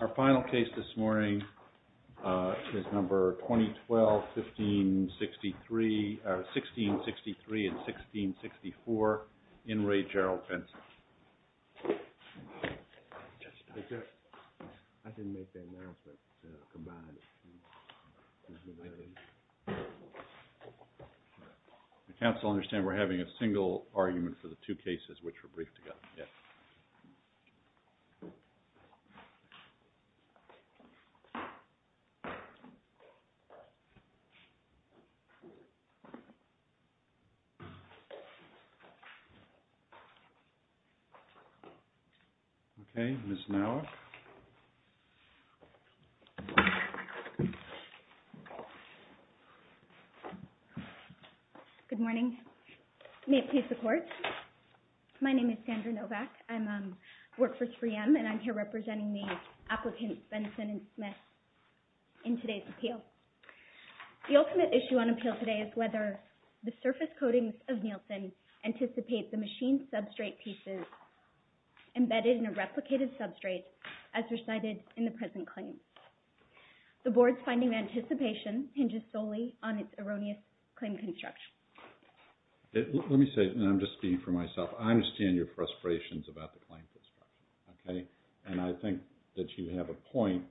Our final case this morning is number 2012-1663 and 1664, In Re, Gerald Benson. I didn't make that announcement, combined. The council understands we're having a single argument for the two cases which were briefed together yet. Okay, Ms. Nowak. Good morning. May it please the court. My name is Sandra Nowak. I work for 3M and I'm here representing the applicants Benson and Smith in today's appeal. The ultimate issue on appeal today is whether the surface coatings of Nielsen anticipate the machined substrate pieces embedded in a replicated substrate as recited in the present claim. The board's finding of anticipation hinges solely on its erroneous claim construction. Let me say, and I'm just speaking for myself, I understand your frustrations about the claim construction. And I think that you have a point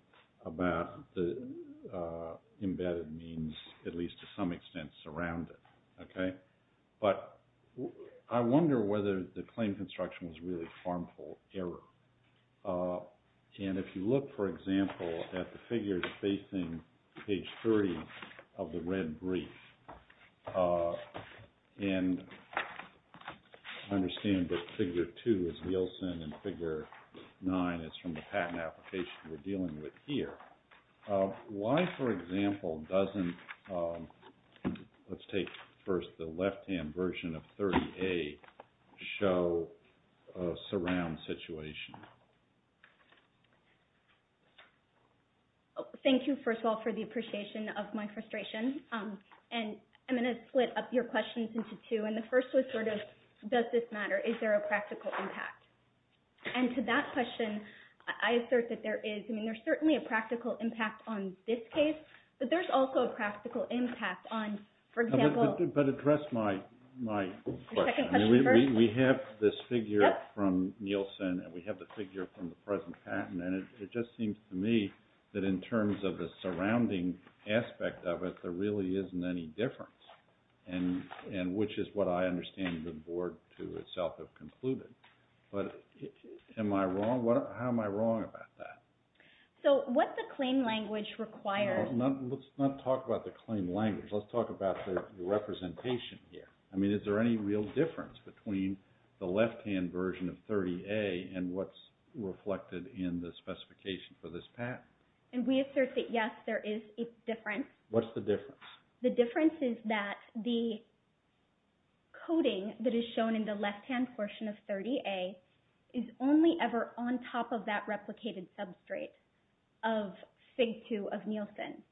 about the embedded means, at least to some extent, surround it. But I wonder whether the claim construction was really harmful error. And if you look, for example, at the figures facing page 30 of the red brief, and I understand that figure 2 is Nielsen and figure 9 is from the patent application we're dealing with here. Why, for example, doesn't, let's take first the left-hand version of 30A, show a surround situation? Thank you, first of all, for the appreciation of my frustration. And I'm going to split up your questions into two. And the first was sort of, does this matter? Is there a practical impact? And to that question, I assert that there is. I mean, there's certainly a practical impact on this case, but there's also a practical impact on, for example— But address my question. The second question first. We have this figure from Nielsen, and we have the figure from the present patent. And it just seems to me that in terms of the surrounding aspect of it, there really isn't any difference, which is what I understand the board to itself have concluded. But am I wrong? How am I wrong about that? So what the claim language requires— Let's not talk about the claim language. Let's talk about the representation here. I mean, is there any real difference between the left-hand version of 30A and what's reflected in the specification for this patent? And we assert that, yes, there is a difference. What's the difference? The difference is that the coating that is shown in the left-hand portion of 30A is only ever on top of that replicated substrate of FIG2 of Nielsen.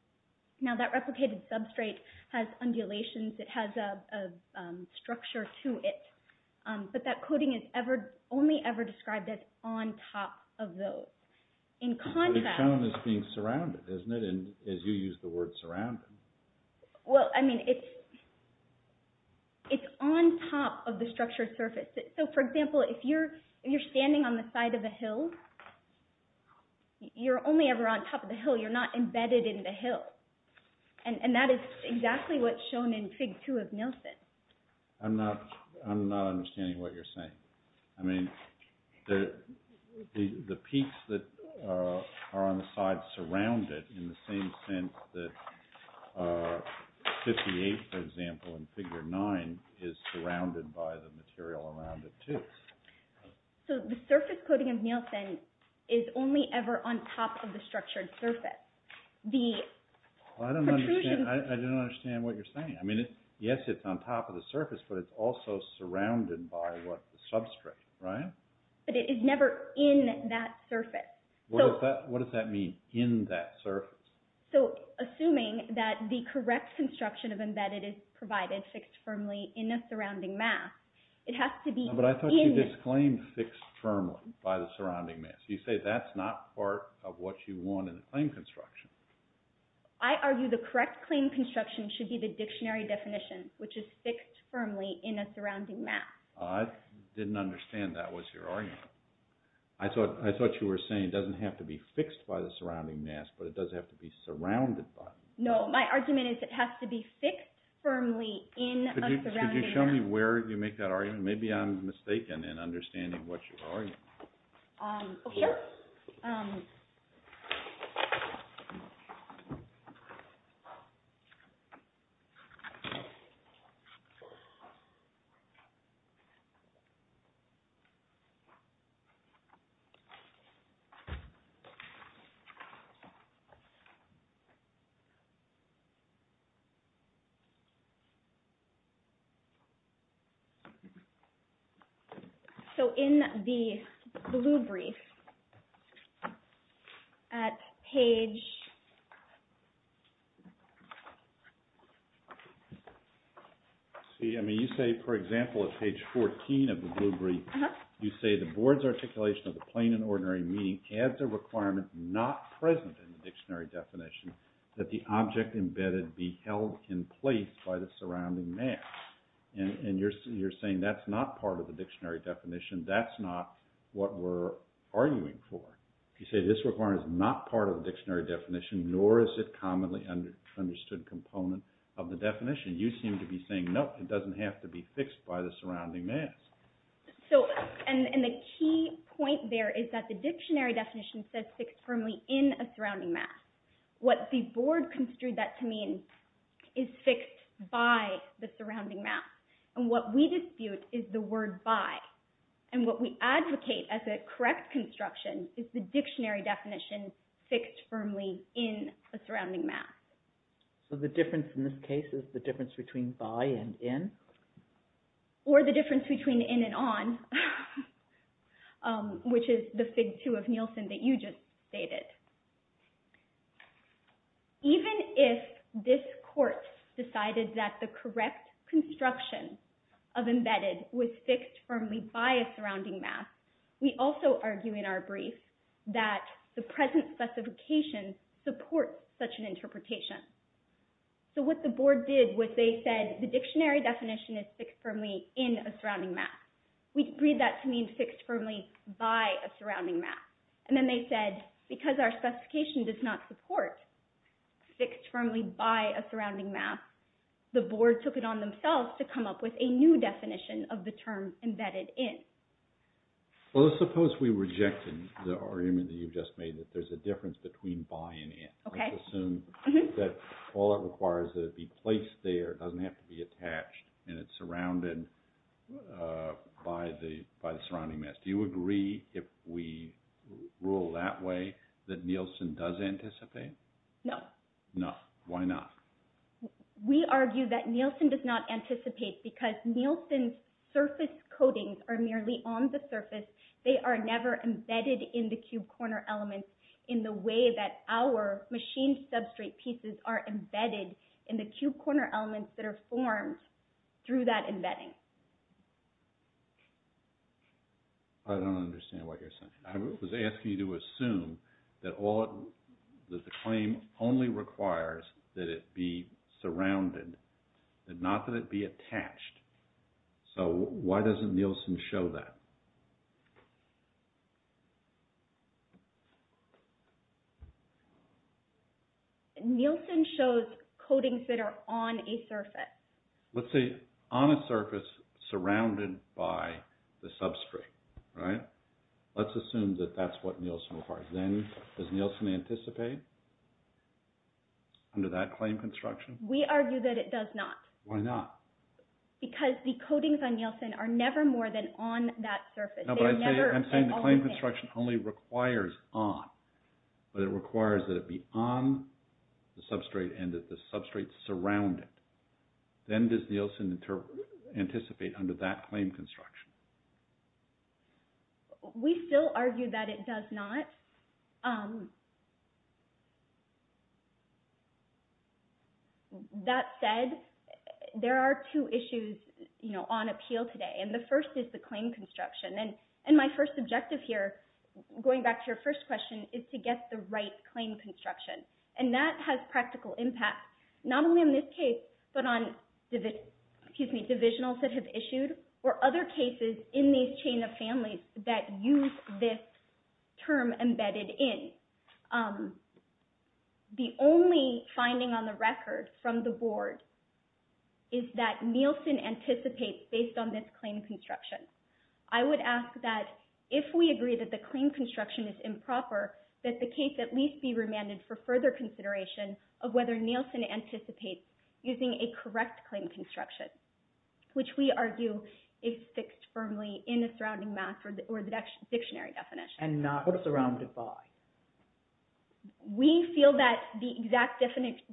Now, that replicated substrate has undulations. It has a structure to it. But that coating is only ever described as on top of those. In contrast— It's shown as being surrounded, isn't it, as you use the word surrounded? Well, I mean, it's on top of the structured surface. So, for example, if you're standing on the side of a hill, you're only ever on top of the hill. You're not embedded in the hill. And that is exactly what's shown in FIG2 of Nielsen. I'm not understanding what you're saying. I mean, the peaks that are on the side surround it in the same sense that 58, for example, and FIG9 is surrounded by the material around it, too. So, the surface coating of Nielsen is only ever on top of the structured surface. The protrusions— I don't understand what you're saying. I mean, yes, it's on top of the surface, but it's also surrounded by the substrate, right? But it is never in that surface. What does that mean, in that surface? So, assuming that the correct construction of embedded is provided fixed firmly in the surrounding mass, it has to be in— But I thought you disclaimed fixed firmly by the surrounding mass. You say that's not part of what you want in the claim construction. I argue the correct claim construction should be the dictionary definition, which is fixed firmly in a surrounding mass. I didn't understand that was your argument. I thought you were saying it doesn't have to be fixed by the surrounding mass, but it does have to be surrounded by it. No, my argument is it has to be fixed firmly in a surrounding mass. Could you show me where you make that argument? Maybe I'm mistaken in understanding what you're arguing. Okay. So, in the blue brief— At page— See, I mean, you say, for example, at page 14 of the blue brief, you say, the board's articulation of the plain and ordinary meaning adds a requirement not present in the dictionary definition that the object embedded be held in place by the surrounding mass. And you're saying that's not part of the dictionary definition. That's not what we're arguing for. You say this requirement is not part of the dictionary definition, nor is it a commonly understood component of the definition. You seem to be saying, no, it doesn't have to be fixed by the surrounding mass. So, and the key point there is that the dictionary definition says fixed firmly in a surrounding mass. What the board construed that to mean is fixed by the surrounding mass. And what we dispute is the word by. And what we advocate as a correct construction is the dictionary definition fixed firmly in a surrounding mass. So, the difference in this case is the difference between by and in? Or the difference between in and on, which is the fig two of Nielsen that you just stated. Even if this court decided that the correct construction of embedded was fixed firmly by a surrounding mass, we also argue in our brief that the present specification supports such an interpretation. So, what the board did was they said the dictionary definition is fixed firmly in a surrounding mass. We agreed that to mean fixed firmly by a surrounding mass. And then they said, because our specification does not support fixed firmly by a surrounding mass, the board took it on themselves to come up with a new definition of the term embedded in. Well, let's suppose we rejected the argument that you've just made that there's a difference between by and in. Let's assume that all it requires is that it be placed there. It doesn't have to be attached. And it's surrounded by the surrounding mass. Do you agree if we rule that way that Nielsen does anticipate? No. No. Why not? We argue that Nielsen does not anticipate because Nielsen's surface coatings are merely on the surface. They are never embedded in the cube corner elements in the way that our machined substrate pieces are embedded in the cube corner elements that are formed through that embedding. I don't understand what you're saying. I was asking you to assume that the claim only requires that it be surrounded and not that it be attached. So why doesn't Nielsen show that? Nielsen shows coatings that are on a surface. Let's say on a surface surrounded by the substrate, right? Let's assume that that's what Nielsen requires. Then does Nielsen anticipate under that claim construction? We argue that it does not. Why not? Because the coatings on Nielsen are never more than on that surface. No, but I'm saying the claim construction only requires on. But it requires that it be on the substrate and that the substrate surround it. Then does Nielsen anticipate under that claim construction? We still argue that it does not. That said, there are two issues on appeal today. The first is the claim construction. My first objective here, going back to your first question, is to get the right claim construction. That has practical impact, not only in this case, but on divisionals that have issued or other cases in these chain of families that use this term embedded in. The only finding on the record from the board is that Nielsen anticipates based on this claim construction. I would ask that if we agree that the claim construction is improper, that the case at least be remanded for further consideration of whether Nielsen anticipates using a correct claim construction, which we argue is fixed firmly in the surrounding math or the dictionary definition. And not surrounded by? We feel that the exact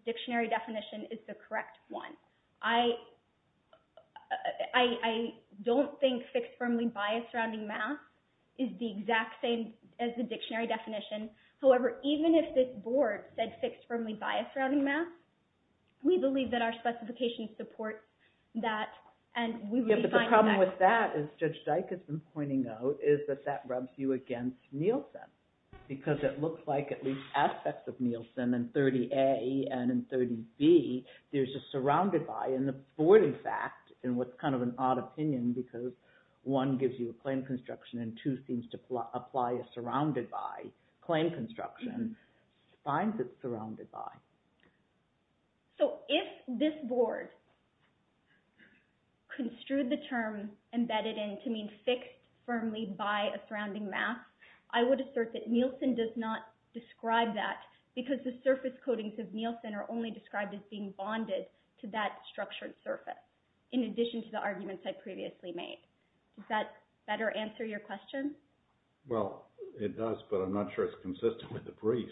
dictionary definition is the correct one. I don't think fixed firmly by a surrounding math is the exact same as the dictionary definition. However, even if this board said fixed firmly by a surrounding math, we believe that our specification supports that. The problem with that, as Judge Dykinson pointed out, is that that rubs you against Nielsen, because it looks like at least aspects of Nielsen in 30A and in 30B, there's a surrounded by. And the board, in fact, in what's kind of an odd opinion, because one gives you a claim construction and two seems to apply a surrounded by claim construction, finds it surrounded by. So if this board construed the term embedded in to mean fixed firmly by a surrounding math, I would assert that Nielsen does not describe that because the surface coatings of Nielsen are only described as being bonded to that structured surface, in addition to the arguments I previously made. Does that better answer your question? Well, it does, but I'm not sure it's consistent with the brief.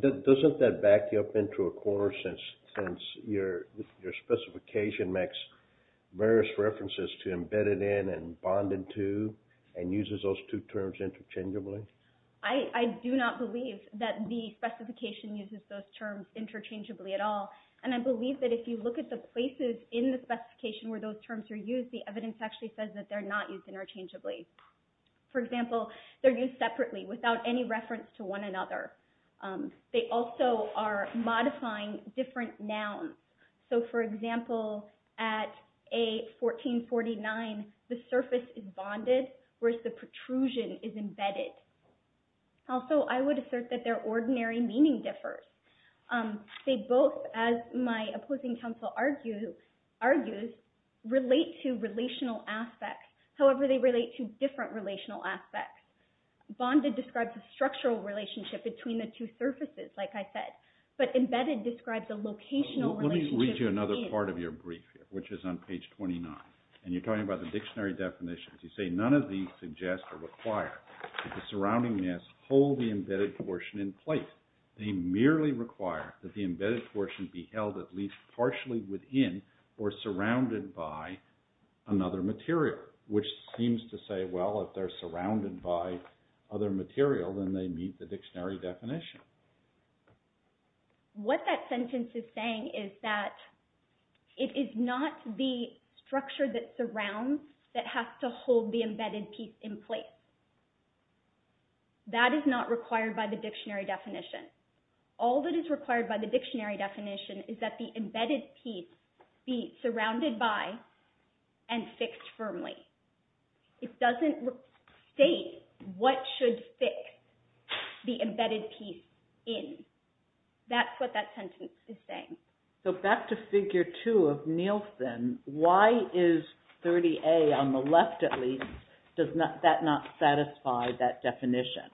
Doesn't that back you up into a corner since your specification makes various references to embedded in and bonded to and uses those two terms interchangeably? I do not believe that the specification uses those terms interchangeably at all. And I believe that if you look at the places in the specification where those terms are used, the evidence actually says that they're not used interchangeably. For example, they're used separately, without any reference to one another. They also are modifying different nouns. So, for example, at A1449, the surface is bonded, whereas the protrusion is embedded. Also, I would assert that their ordinary meaning differs. They both, as my opposing counsel argues, relate to relational aspects. However, they relate to different relational aspects. Bonded describes a structural relationship between the two surfaces, like I said. But embedded describes a locational relationship. Let me read you another part of your brief, which is on page 29. And you're talking about the dictionary definitions. You say, none of these suggest or require that the surrounding mass hold the embedded portion in place. They merely require that the embedded portion be held at least partially within or surrounded by another material. Which seems to say, well, if they're surrounded by other material, then they meet the dictionary definition. What that sentence is saying is that it is not the structure that surrounds that has to hold the embedded piece in place. That is not required by the dictionary definition. All that is required by the dictionary definition is that the embedded piece be surrounded by and fixed firmly. It doesn't state what should fix the embedded piece in. That's what that sentence is saying. So back to figure two of Nielsen. Why is 30A on the left, at least, does that not satisfy that definition?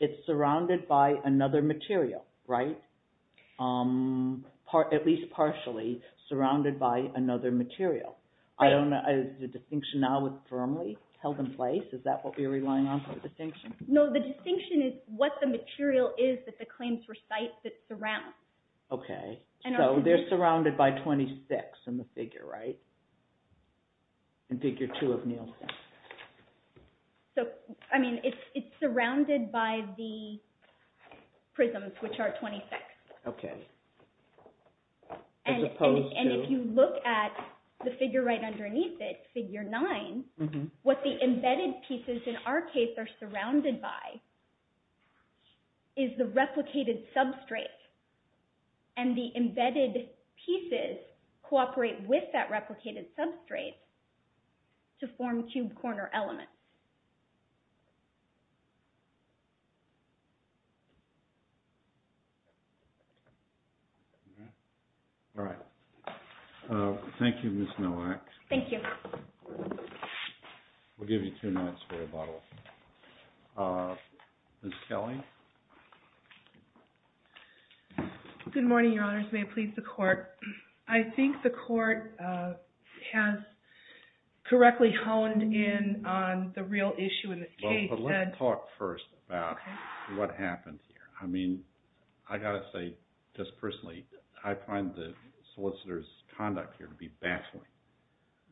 It's surrounded by another material, right? At least partially surrounded by another material. Is the distinction now with firmly held in place? Is that what we're relying on for the distinction? No, the distinction is what the material is that the claims recite that surrounds. Okay, so they're surrounded by 26 in the figure, right? In figure two of Nielsen. So, I mean, it's surrounded by the prisms, which are 26. Okay, as opposed to? And if you look at the figure right underneath it, figure nine, what the embedded pieces in our case are surrounded by is the replicated substrate. And the embedded pieces cooperate with that replicated substrate to form cube corner elements. All right. Thank you, Ms. Nowak. Thank you. We'll give you two minutes for rebuttal. Ms. Kelly? Good morning, Your Honors. May it please the Court. I think the Court has correctly honed in on the real issue in this case. Well, but let's talk first about what happened here. I mean, I've got to say, just personally, I find the solicitor's conduct here to be baffling.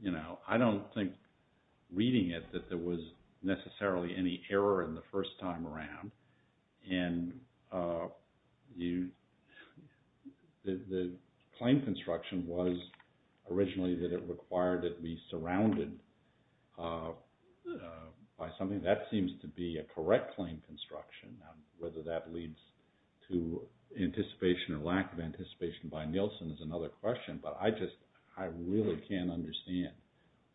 You know, I don't think reading it that there was necessarily any error in the first time around. And the claim construction was originally that it required that it be surrounded by something. That seems to be a correct claim construction. Now, whether that leads to anticipation or lack of anticipation by Nielsen is another question. But I just, I really can't understand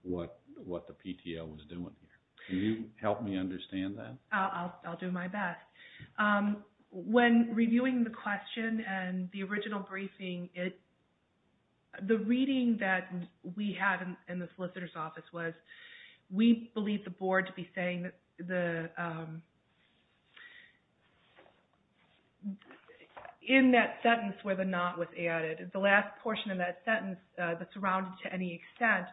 what the PTL was doing here. Can you help me understand that? I'll do my best. When reviewing the question and the original briefing, the reading that we had in the solicitor's office was, we believe the Board to be saying, in that sentence where the not was added, the last portion of that sentence, the surrounded to any extent,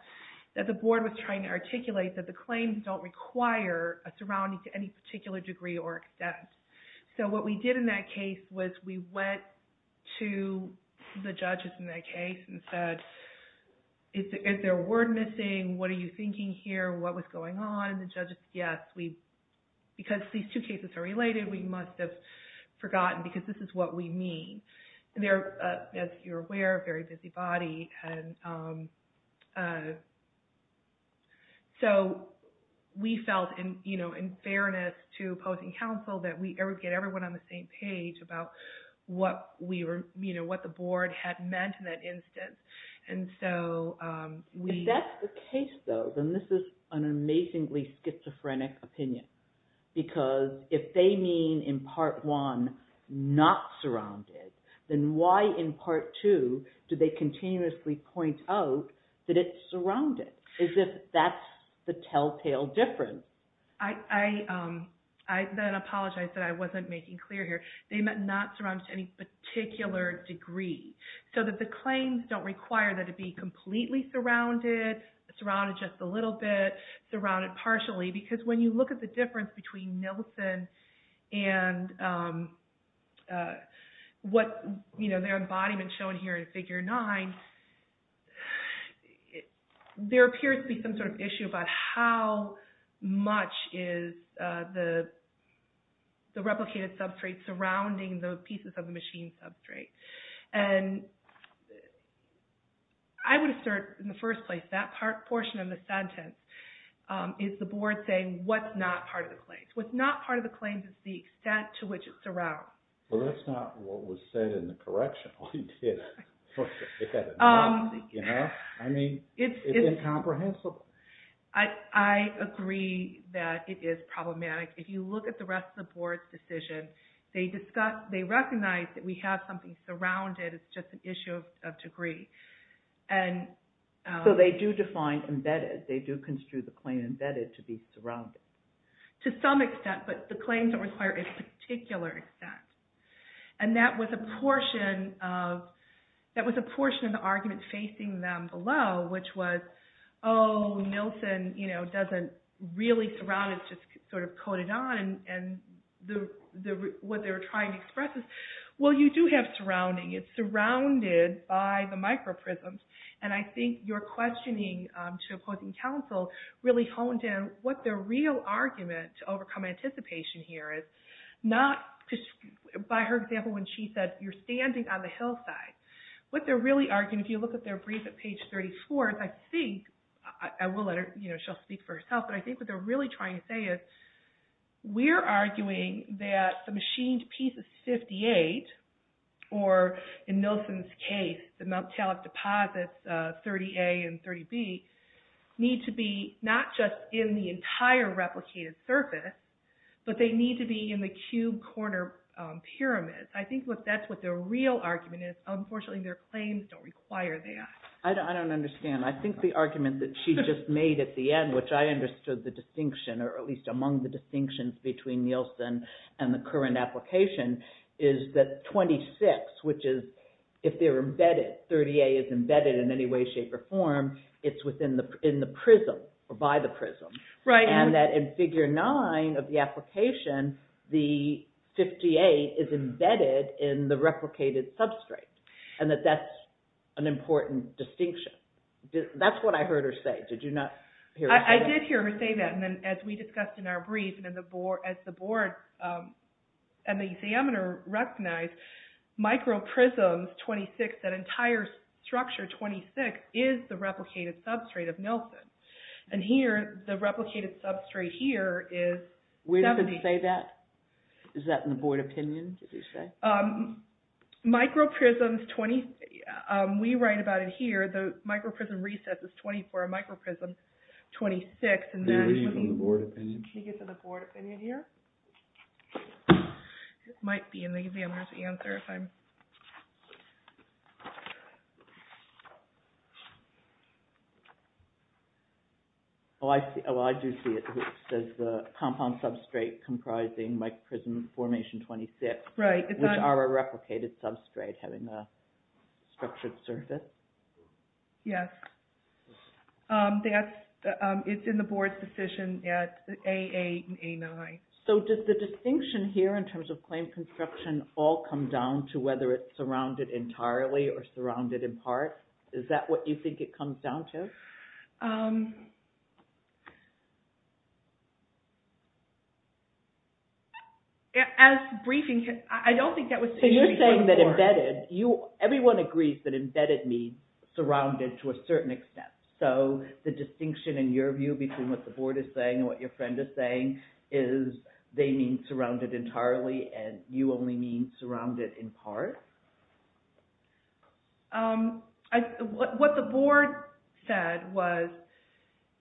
that the Board was trying to articulate that the claims don't require a surrounding to any particular degree or extent. So what we did in that case was we went to the judges in that case and said, is there a word missing? What are you thinking here? What was going on? And the judges, yes, because these two cases are related, we must have forgotten because this is what we mean. They're, as you're aware, a very busy body. And so we felt in fairness to opposing counsel that we get everyone on the same page about what we were, you know, what the Board had meant in that instance. And so we. If that's the case, though, then this is an amazingly schizophrenic opinion. Because if they mean in Part 1, not surrounded, then why in Part 2 do they continuously point out that it's surrounded? As if that's the telltale difference. I then apologize that I wasn't making clear here. They meant not surrounded to any particular degree. So that the claims don't require that it be completely surrounded, surrounded just a little bit, surrounded partially. Because when you look at the difference between Nilsen and what, you know, their embodiment shown here in Figure 9, there appears to be some sort of issue about how much is the replicated substrate surrounding the pieces of the machine substrate. And I would assert in the first place, that portion of the sentence is the Board saying what's not part of the claims. What's not part of the claims is the extent to which it surrounds. Well, that's not what was said in the correctional. It's incomprehensible. I agree that it is problematic. If you look at the rest of the Board's decision, they recognize that we have something surrounded. It's just an issue of degree. So they do define embedded. They do construe the claim embedded to be surrounded. To some extent, but the claims don't require a particular extent. And that was a portion of the argument facing them below, which was, oh, Nilsen doesn't really surround, it's just sort of coated on. And what they're trying to express is, well, you do have surrounding. It's surrounded by the microprisms. And I think your questioning to opposing counsel really honed in what the real argument to overcome anticipation here is, not by her example when she said, you're standing on the hillside. What they're really arguing, if you look at their brief at page 34, I think, I will let her, you know, she'll speak for herself, but I think what they're really trying to say is, we're arguing that the machined piece of 58, or in Nilsen's case, the Mt. Talbot deposits, 30A and 30B, need to be not just in the entire replicated surface, but they need to be in the cube corner pyramids. I think that's what the real argument is. Unfortunately, their claims don't require that. I don't understand. I think the argument that she just made at the end, which I understood the distinction, or at least among the distinctions between Nilsen and the current application, is that 26, which is, if they're embedded, 30A is embedded in any way, shape, or form, it's within the, in the prism, or by the prism. Right. And that in figure 9 of the application, the 58 is embedded in the replicated substrate. And that that's an important distinction. That's what I heard her say. Did you not hear her say that? I did hear her say that. And then, as we discussed in our brief, and as the board and the examiner recognized, microprism 26, that entire structure 26, is the replicated substrate of Nilsen. And here, the replicated substrate here is 70. Where did they say that? Is that in the board opinion, did you say? Microprism 20, we write about it here, the microprism recess is 24, microprism 26. Can you read it from the board opinion? Can you get to the board opinion here? It might be in the examiner's answer if I'm... Oh, I do see it. It says the compound substrate comprising microprism formation 26. Right. Which are a replicated substrate having a structured surface. Yes. It's in the board's decision at AA and A9. So, does the distinction here in terms of claim construction all come down to whether it's surrounded entirely or surrounded in part? Is that what you think it comes down to? As briefing, I don't think that was... So, you're saying that embedded, everyone agrees that embedded means surrounded to a certain extent. So, the distinction in your view between what the board is saying and what your friend is saying is they mean surrounded entirely and you only mean surrounded in part? What the board said was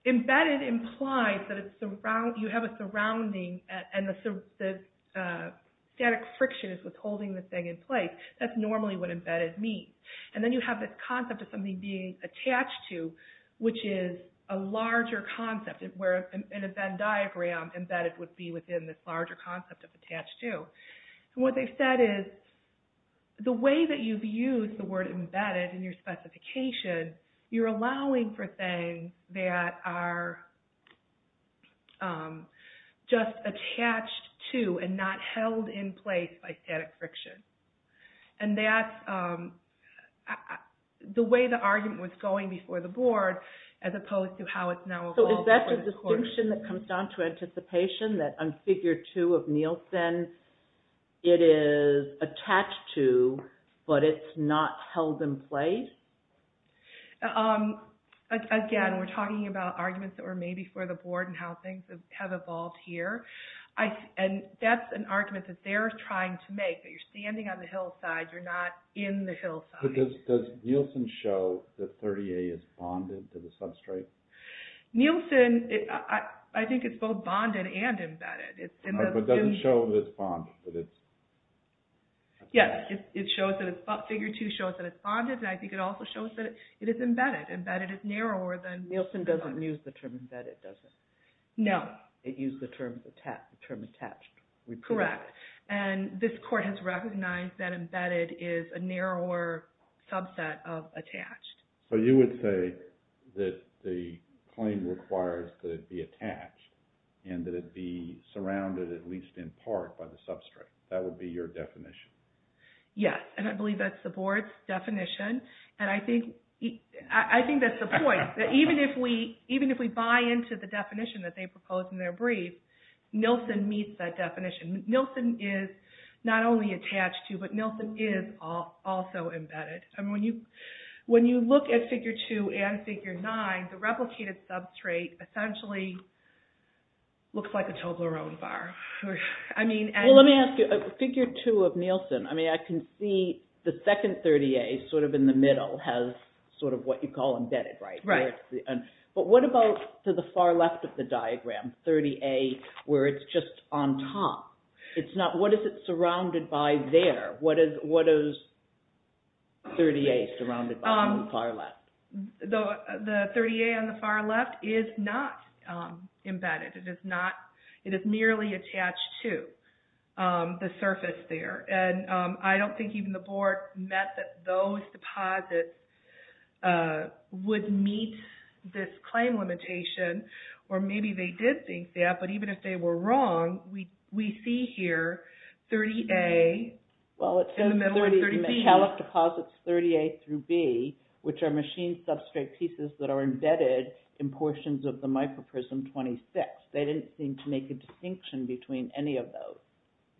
embedded implies that you have a surrounding and the static friction is withholding the thing in place. That's normally what embedded means. And then you have this concept of something being attached to, which is a larger concept where in a Venn diagram embedded would be within this larger concept of attached to. And what they've said is the way that you've used the word embedded in your specification, you're allowing for things that are just attached to and not held in place by static friction. And that's the way the argument was going before the board as opposed to how it's now evolved. So, is that the distinction that comes down to anticipation that on Figure 2 of Nielsen, it is attached to, but it's not held in place? Again, we're talking about arguments that were made before the board and how things have evolved here. And that's an argument that they're trying to make, that you're standing on the hillside, you're not in the hillside. Does Nielsen show that 30A is bonded to the substrate? Nielsen, I think it's both bonded and embedded. But it doesn't show that it's bonded. Yes, it shows that it's bonded. Figure 2 shows that it's bonded, and I think it also shows that it is embedded. Embedded is narrower than bonded. Nielsen doesn't use the term embedded, does it? No. It used the term attached. Correct. And this court has recognized that embedded is a narrower subset of attached. So you would say that the claim requires that it be attached and that it be surrounded at least in part by the substrate. That would be your definition? Yes, and I believe that's the board's definition. And I think that's the point, that even if we buy into the definition that they propose in their brief, Nielsen meets that definition. Nielsen is not only attached to, but Nielsen is also embedded. When you look at Figure 2 and Figure 9, the replicated substrate essentially looks like a Toblerone bar. Well, let me ask you, Figure 2 of Nielsen, I can see the second 30A sort of in the middle has sort of what you call embedded, right? Right. But what about to the far left of the diagram, 30A, where it's just on top? What is it surrounded by there? What is 30A surrounded by on the far left? The 30A on the far left is not embedded. It is not. It is merely attached to the surface there. And I don't think even the board met that those deposits would meet this claim limitation. Or maybe they did think that, but even if they were wrong, we see here 30A. In the middle of 30B. Well, it says 30, the metallic deposits 30A through B, which are machine substrate pieces that are embedded in portions of the microprism 26. They didn't seem to make a distinction between any of those,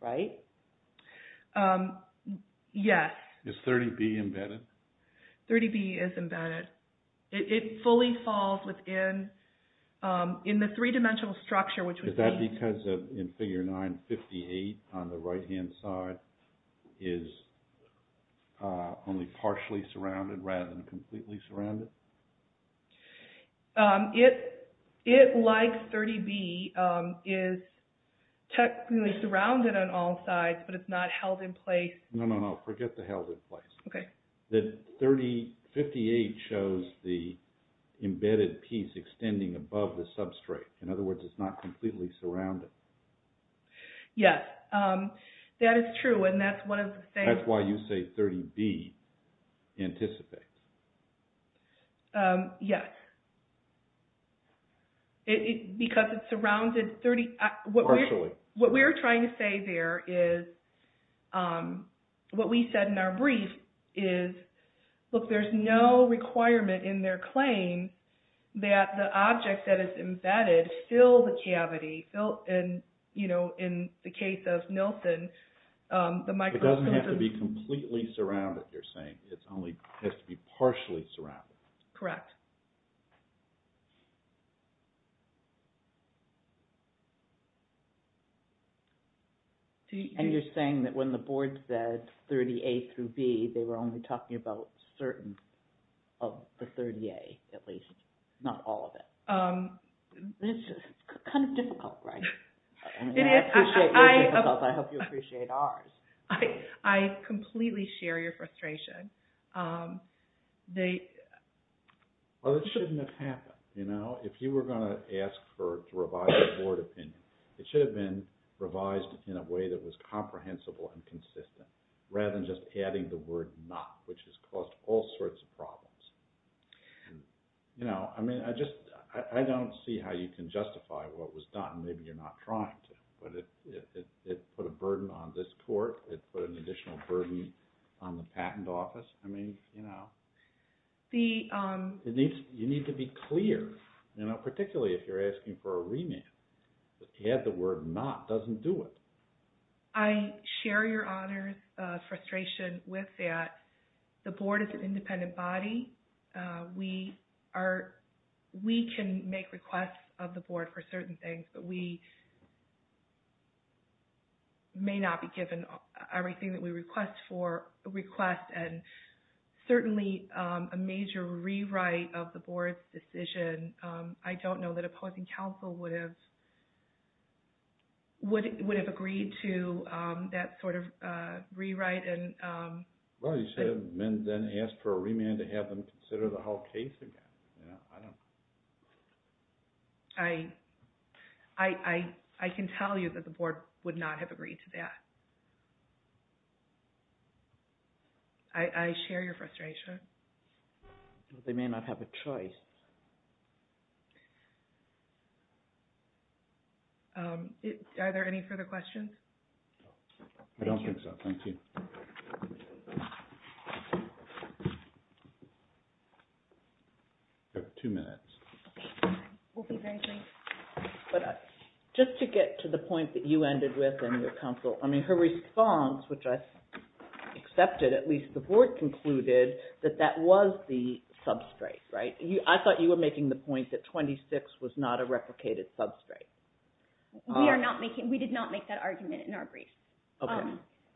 right? Yes. Is 30B embedded? 30B is embedded. It fully falls within the three-dimensional structure, which would be... Not because in Figure 9, 58 on the right-hand side is only partially surrounded rather than completely surrounded? It, like 30B, is technically surrounded on all sides, but it's not held in place. No, no, no. Forget the held in place. Okay. The 58 shows the embedded piece extending above the substrate. In other words, it's not completely surrounded. Yes, that is true, and that's one of the things... That's why you say 30B anticipates. Yes. Because it's surrounded 30... Partially. What we're trying to say there is, what we said in our brief is, look, there's no requirement in their claim that the object that is embedded fill the cavity. In the case of Nilsen, the microprism... It doesn't have to be completely surrounded, you're saying. It only has to be partially surrounded. Correct. And you're saying that when the board said 30A through B, they were only talking about a certain... Of the 30A, at least. Not all of it. This is kind of difficult, right? It is. I appreciate your difficulty. I hope you appreciate ours. I completely share your frustration. They... Well, it shouldn't have happened. If you were going to ask for a revised board opinion, it should have been revised in a way that was comprehensible and consistent, rather than just adding the word not, which has caused all sorts of problems. I don't see how you can justify what was done. Maybe you're not trying to, but it put a burden on this court. It put an additional burden on the patent office. You need to be clear, particularly if you're asking for a remand. If you add the word not, it doesn't do it. I share your Honor's frustration with that. The board is an independent body. We are... We can make requests of the board for certain things, but we may not be given everything that we request, and certainly a major rewrite of the board's decision, I don't know that would have agreed to that sort of rewrite. Well, you should have then asked for a remand to have them consider the whole case again. I don't... I can tell you that the board would not have agreed to that. I share your frustration. They may not have a choice. Are there any further questions? I don't think so, thank you. You have two minutes. We'll be very brief. But just to get to the point that you ended with in your counsel, I mean, her response, which I accepted, at least the board concluded, that that was the substrate, right? I thought you were making the point that 26 was not a replicated substrate. We are not making... We did not make that argument in our brief. Okay,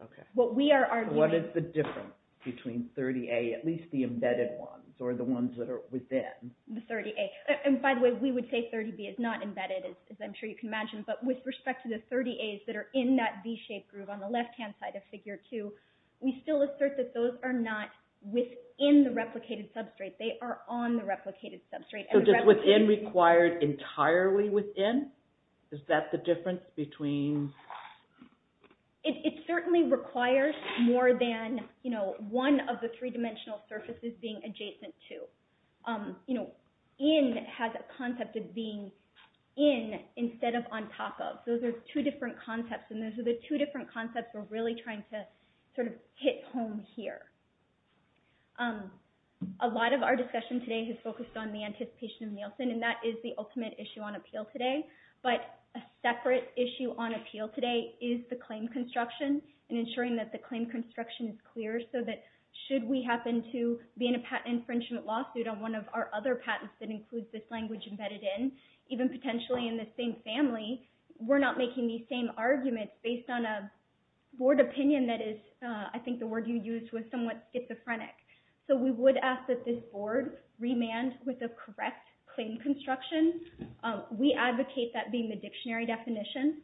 okay. What we are arguing... What is the difference between 30A, at least the embedded ones, or the ones that are within? The 30A. And by the way, we would say 30B is not embedded, as I'm sure you can imagine, but with respect to the 30As that are in that V-shaped groove on the left-hand side of Figure 2, we still assert that those are not within the replicated substrate. They are on the replicated substrate. So just within required entirely within? Is that the difference between... It certainly requires more than one of the three-dimensional surfaces being adjacent to. In has a concept of being in instead of on top of. Those are two different concepts, and those are the two different concepts we're really trying to sort of hit home here. A lot of our discussion today has focused on the anticipation of Nielsen, and that is the ultimate issue on appeal today. But a separate issue on appeal today is the claim construction and ensuring that the claim construction is clear so that should we happen to be in a patent infringement lawsuit on one of our other patents that includes this language embedded in, even potentially in the same family, we're not making these same arguments based on a board opinion that is, I think the word you used was somewhat schizophrenic. So we would ask that this board remand with a correct claim construction. We advocate that being the dictionary definition.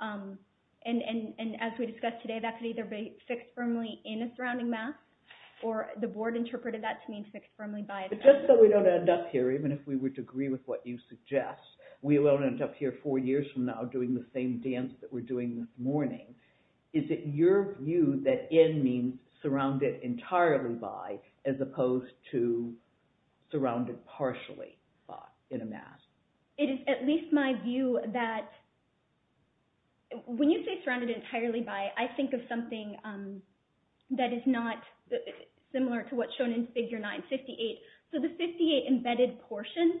And as we discussed today, that could either be fixed firmly in a surrounding mass, or the board interpreted that to mean fixed firmly by itself. Just so we don't end up here, even if we would agree with what you suggest, we won't end up here four years from now doing the same dance that we're doing this morning. Is it your view that in means surrounded entirely by, as opposed to surrounded partially by in a mass? It is at least my view that when you say surrounded entirely by, I think of something that is similar to what's shown in Figure 9, 58. So the 58 embedded portion,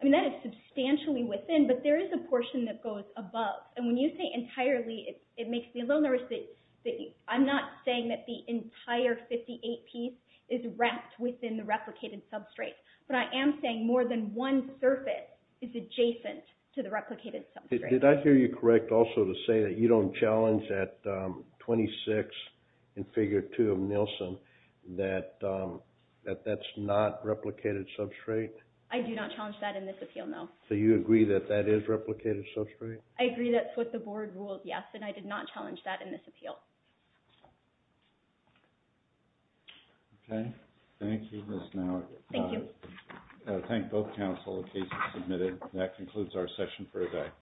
I mean that is substantially within, but there is a portion that goes above. And when you say entirely, it makes me a little nervous that I'm not saying that the entire 58 piece is wrapped within the replicated substrate, but I am saying more than one surface is adjacent to the replicated substrate. Did I hear you correct also to say that you don't challenge at 26 in Figure 2 of Nielsen that that's not replicated substrate? I do not challenge that in this appeal, no. So you agree that that is replicated substrate? I agree that's what the board rules, yes. And I did not challenge that in this appeal. Okay. Thank you, Ms. Nowak. Thank you. I thank both counsel in case you submitted. That concludes our session for today.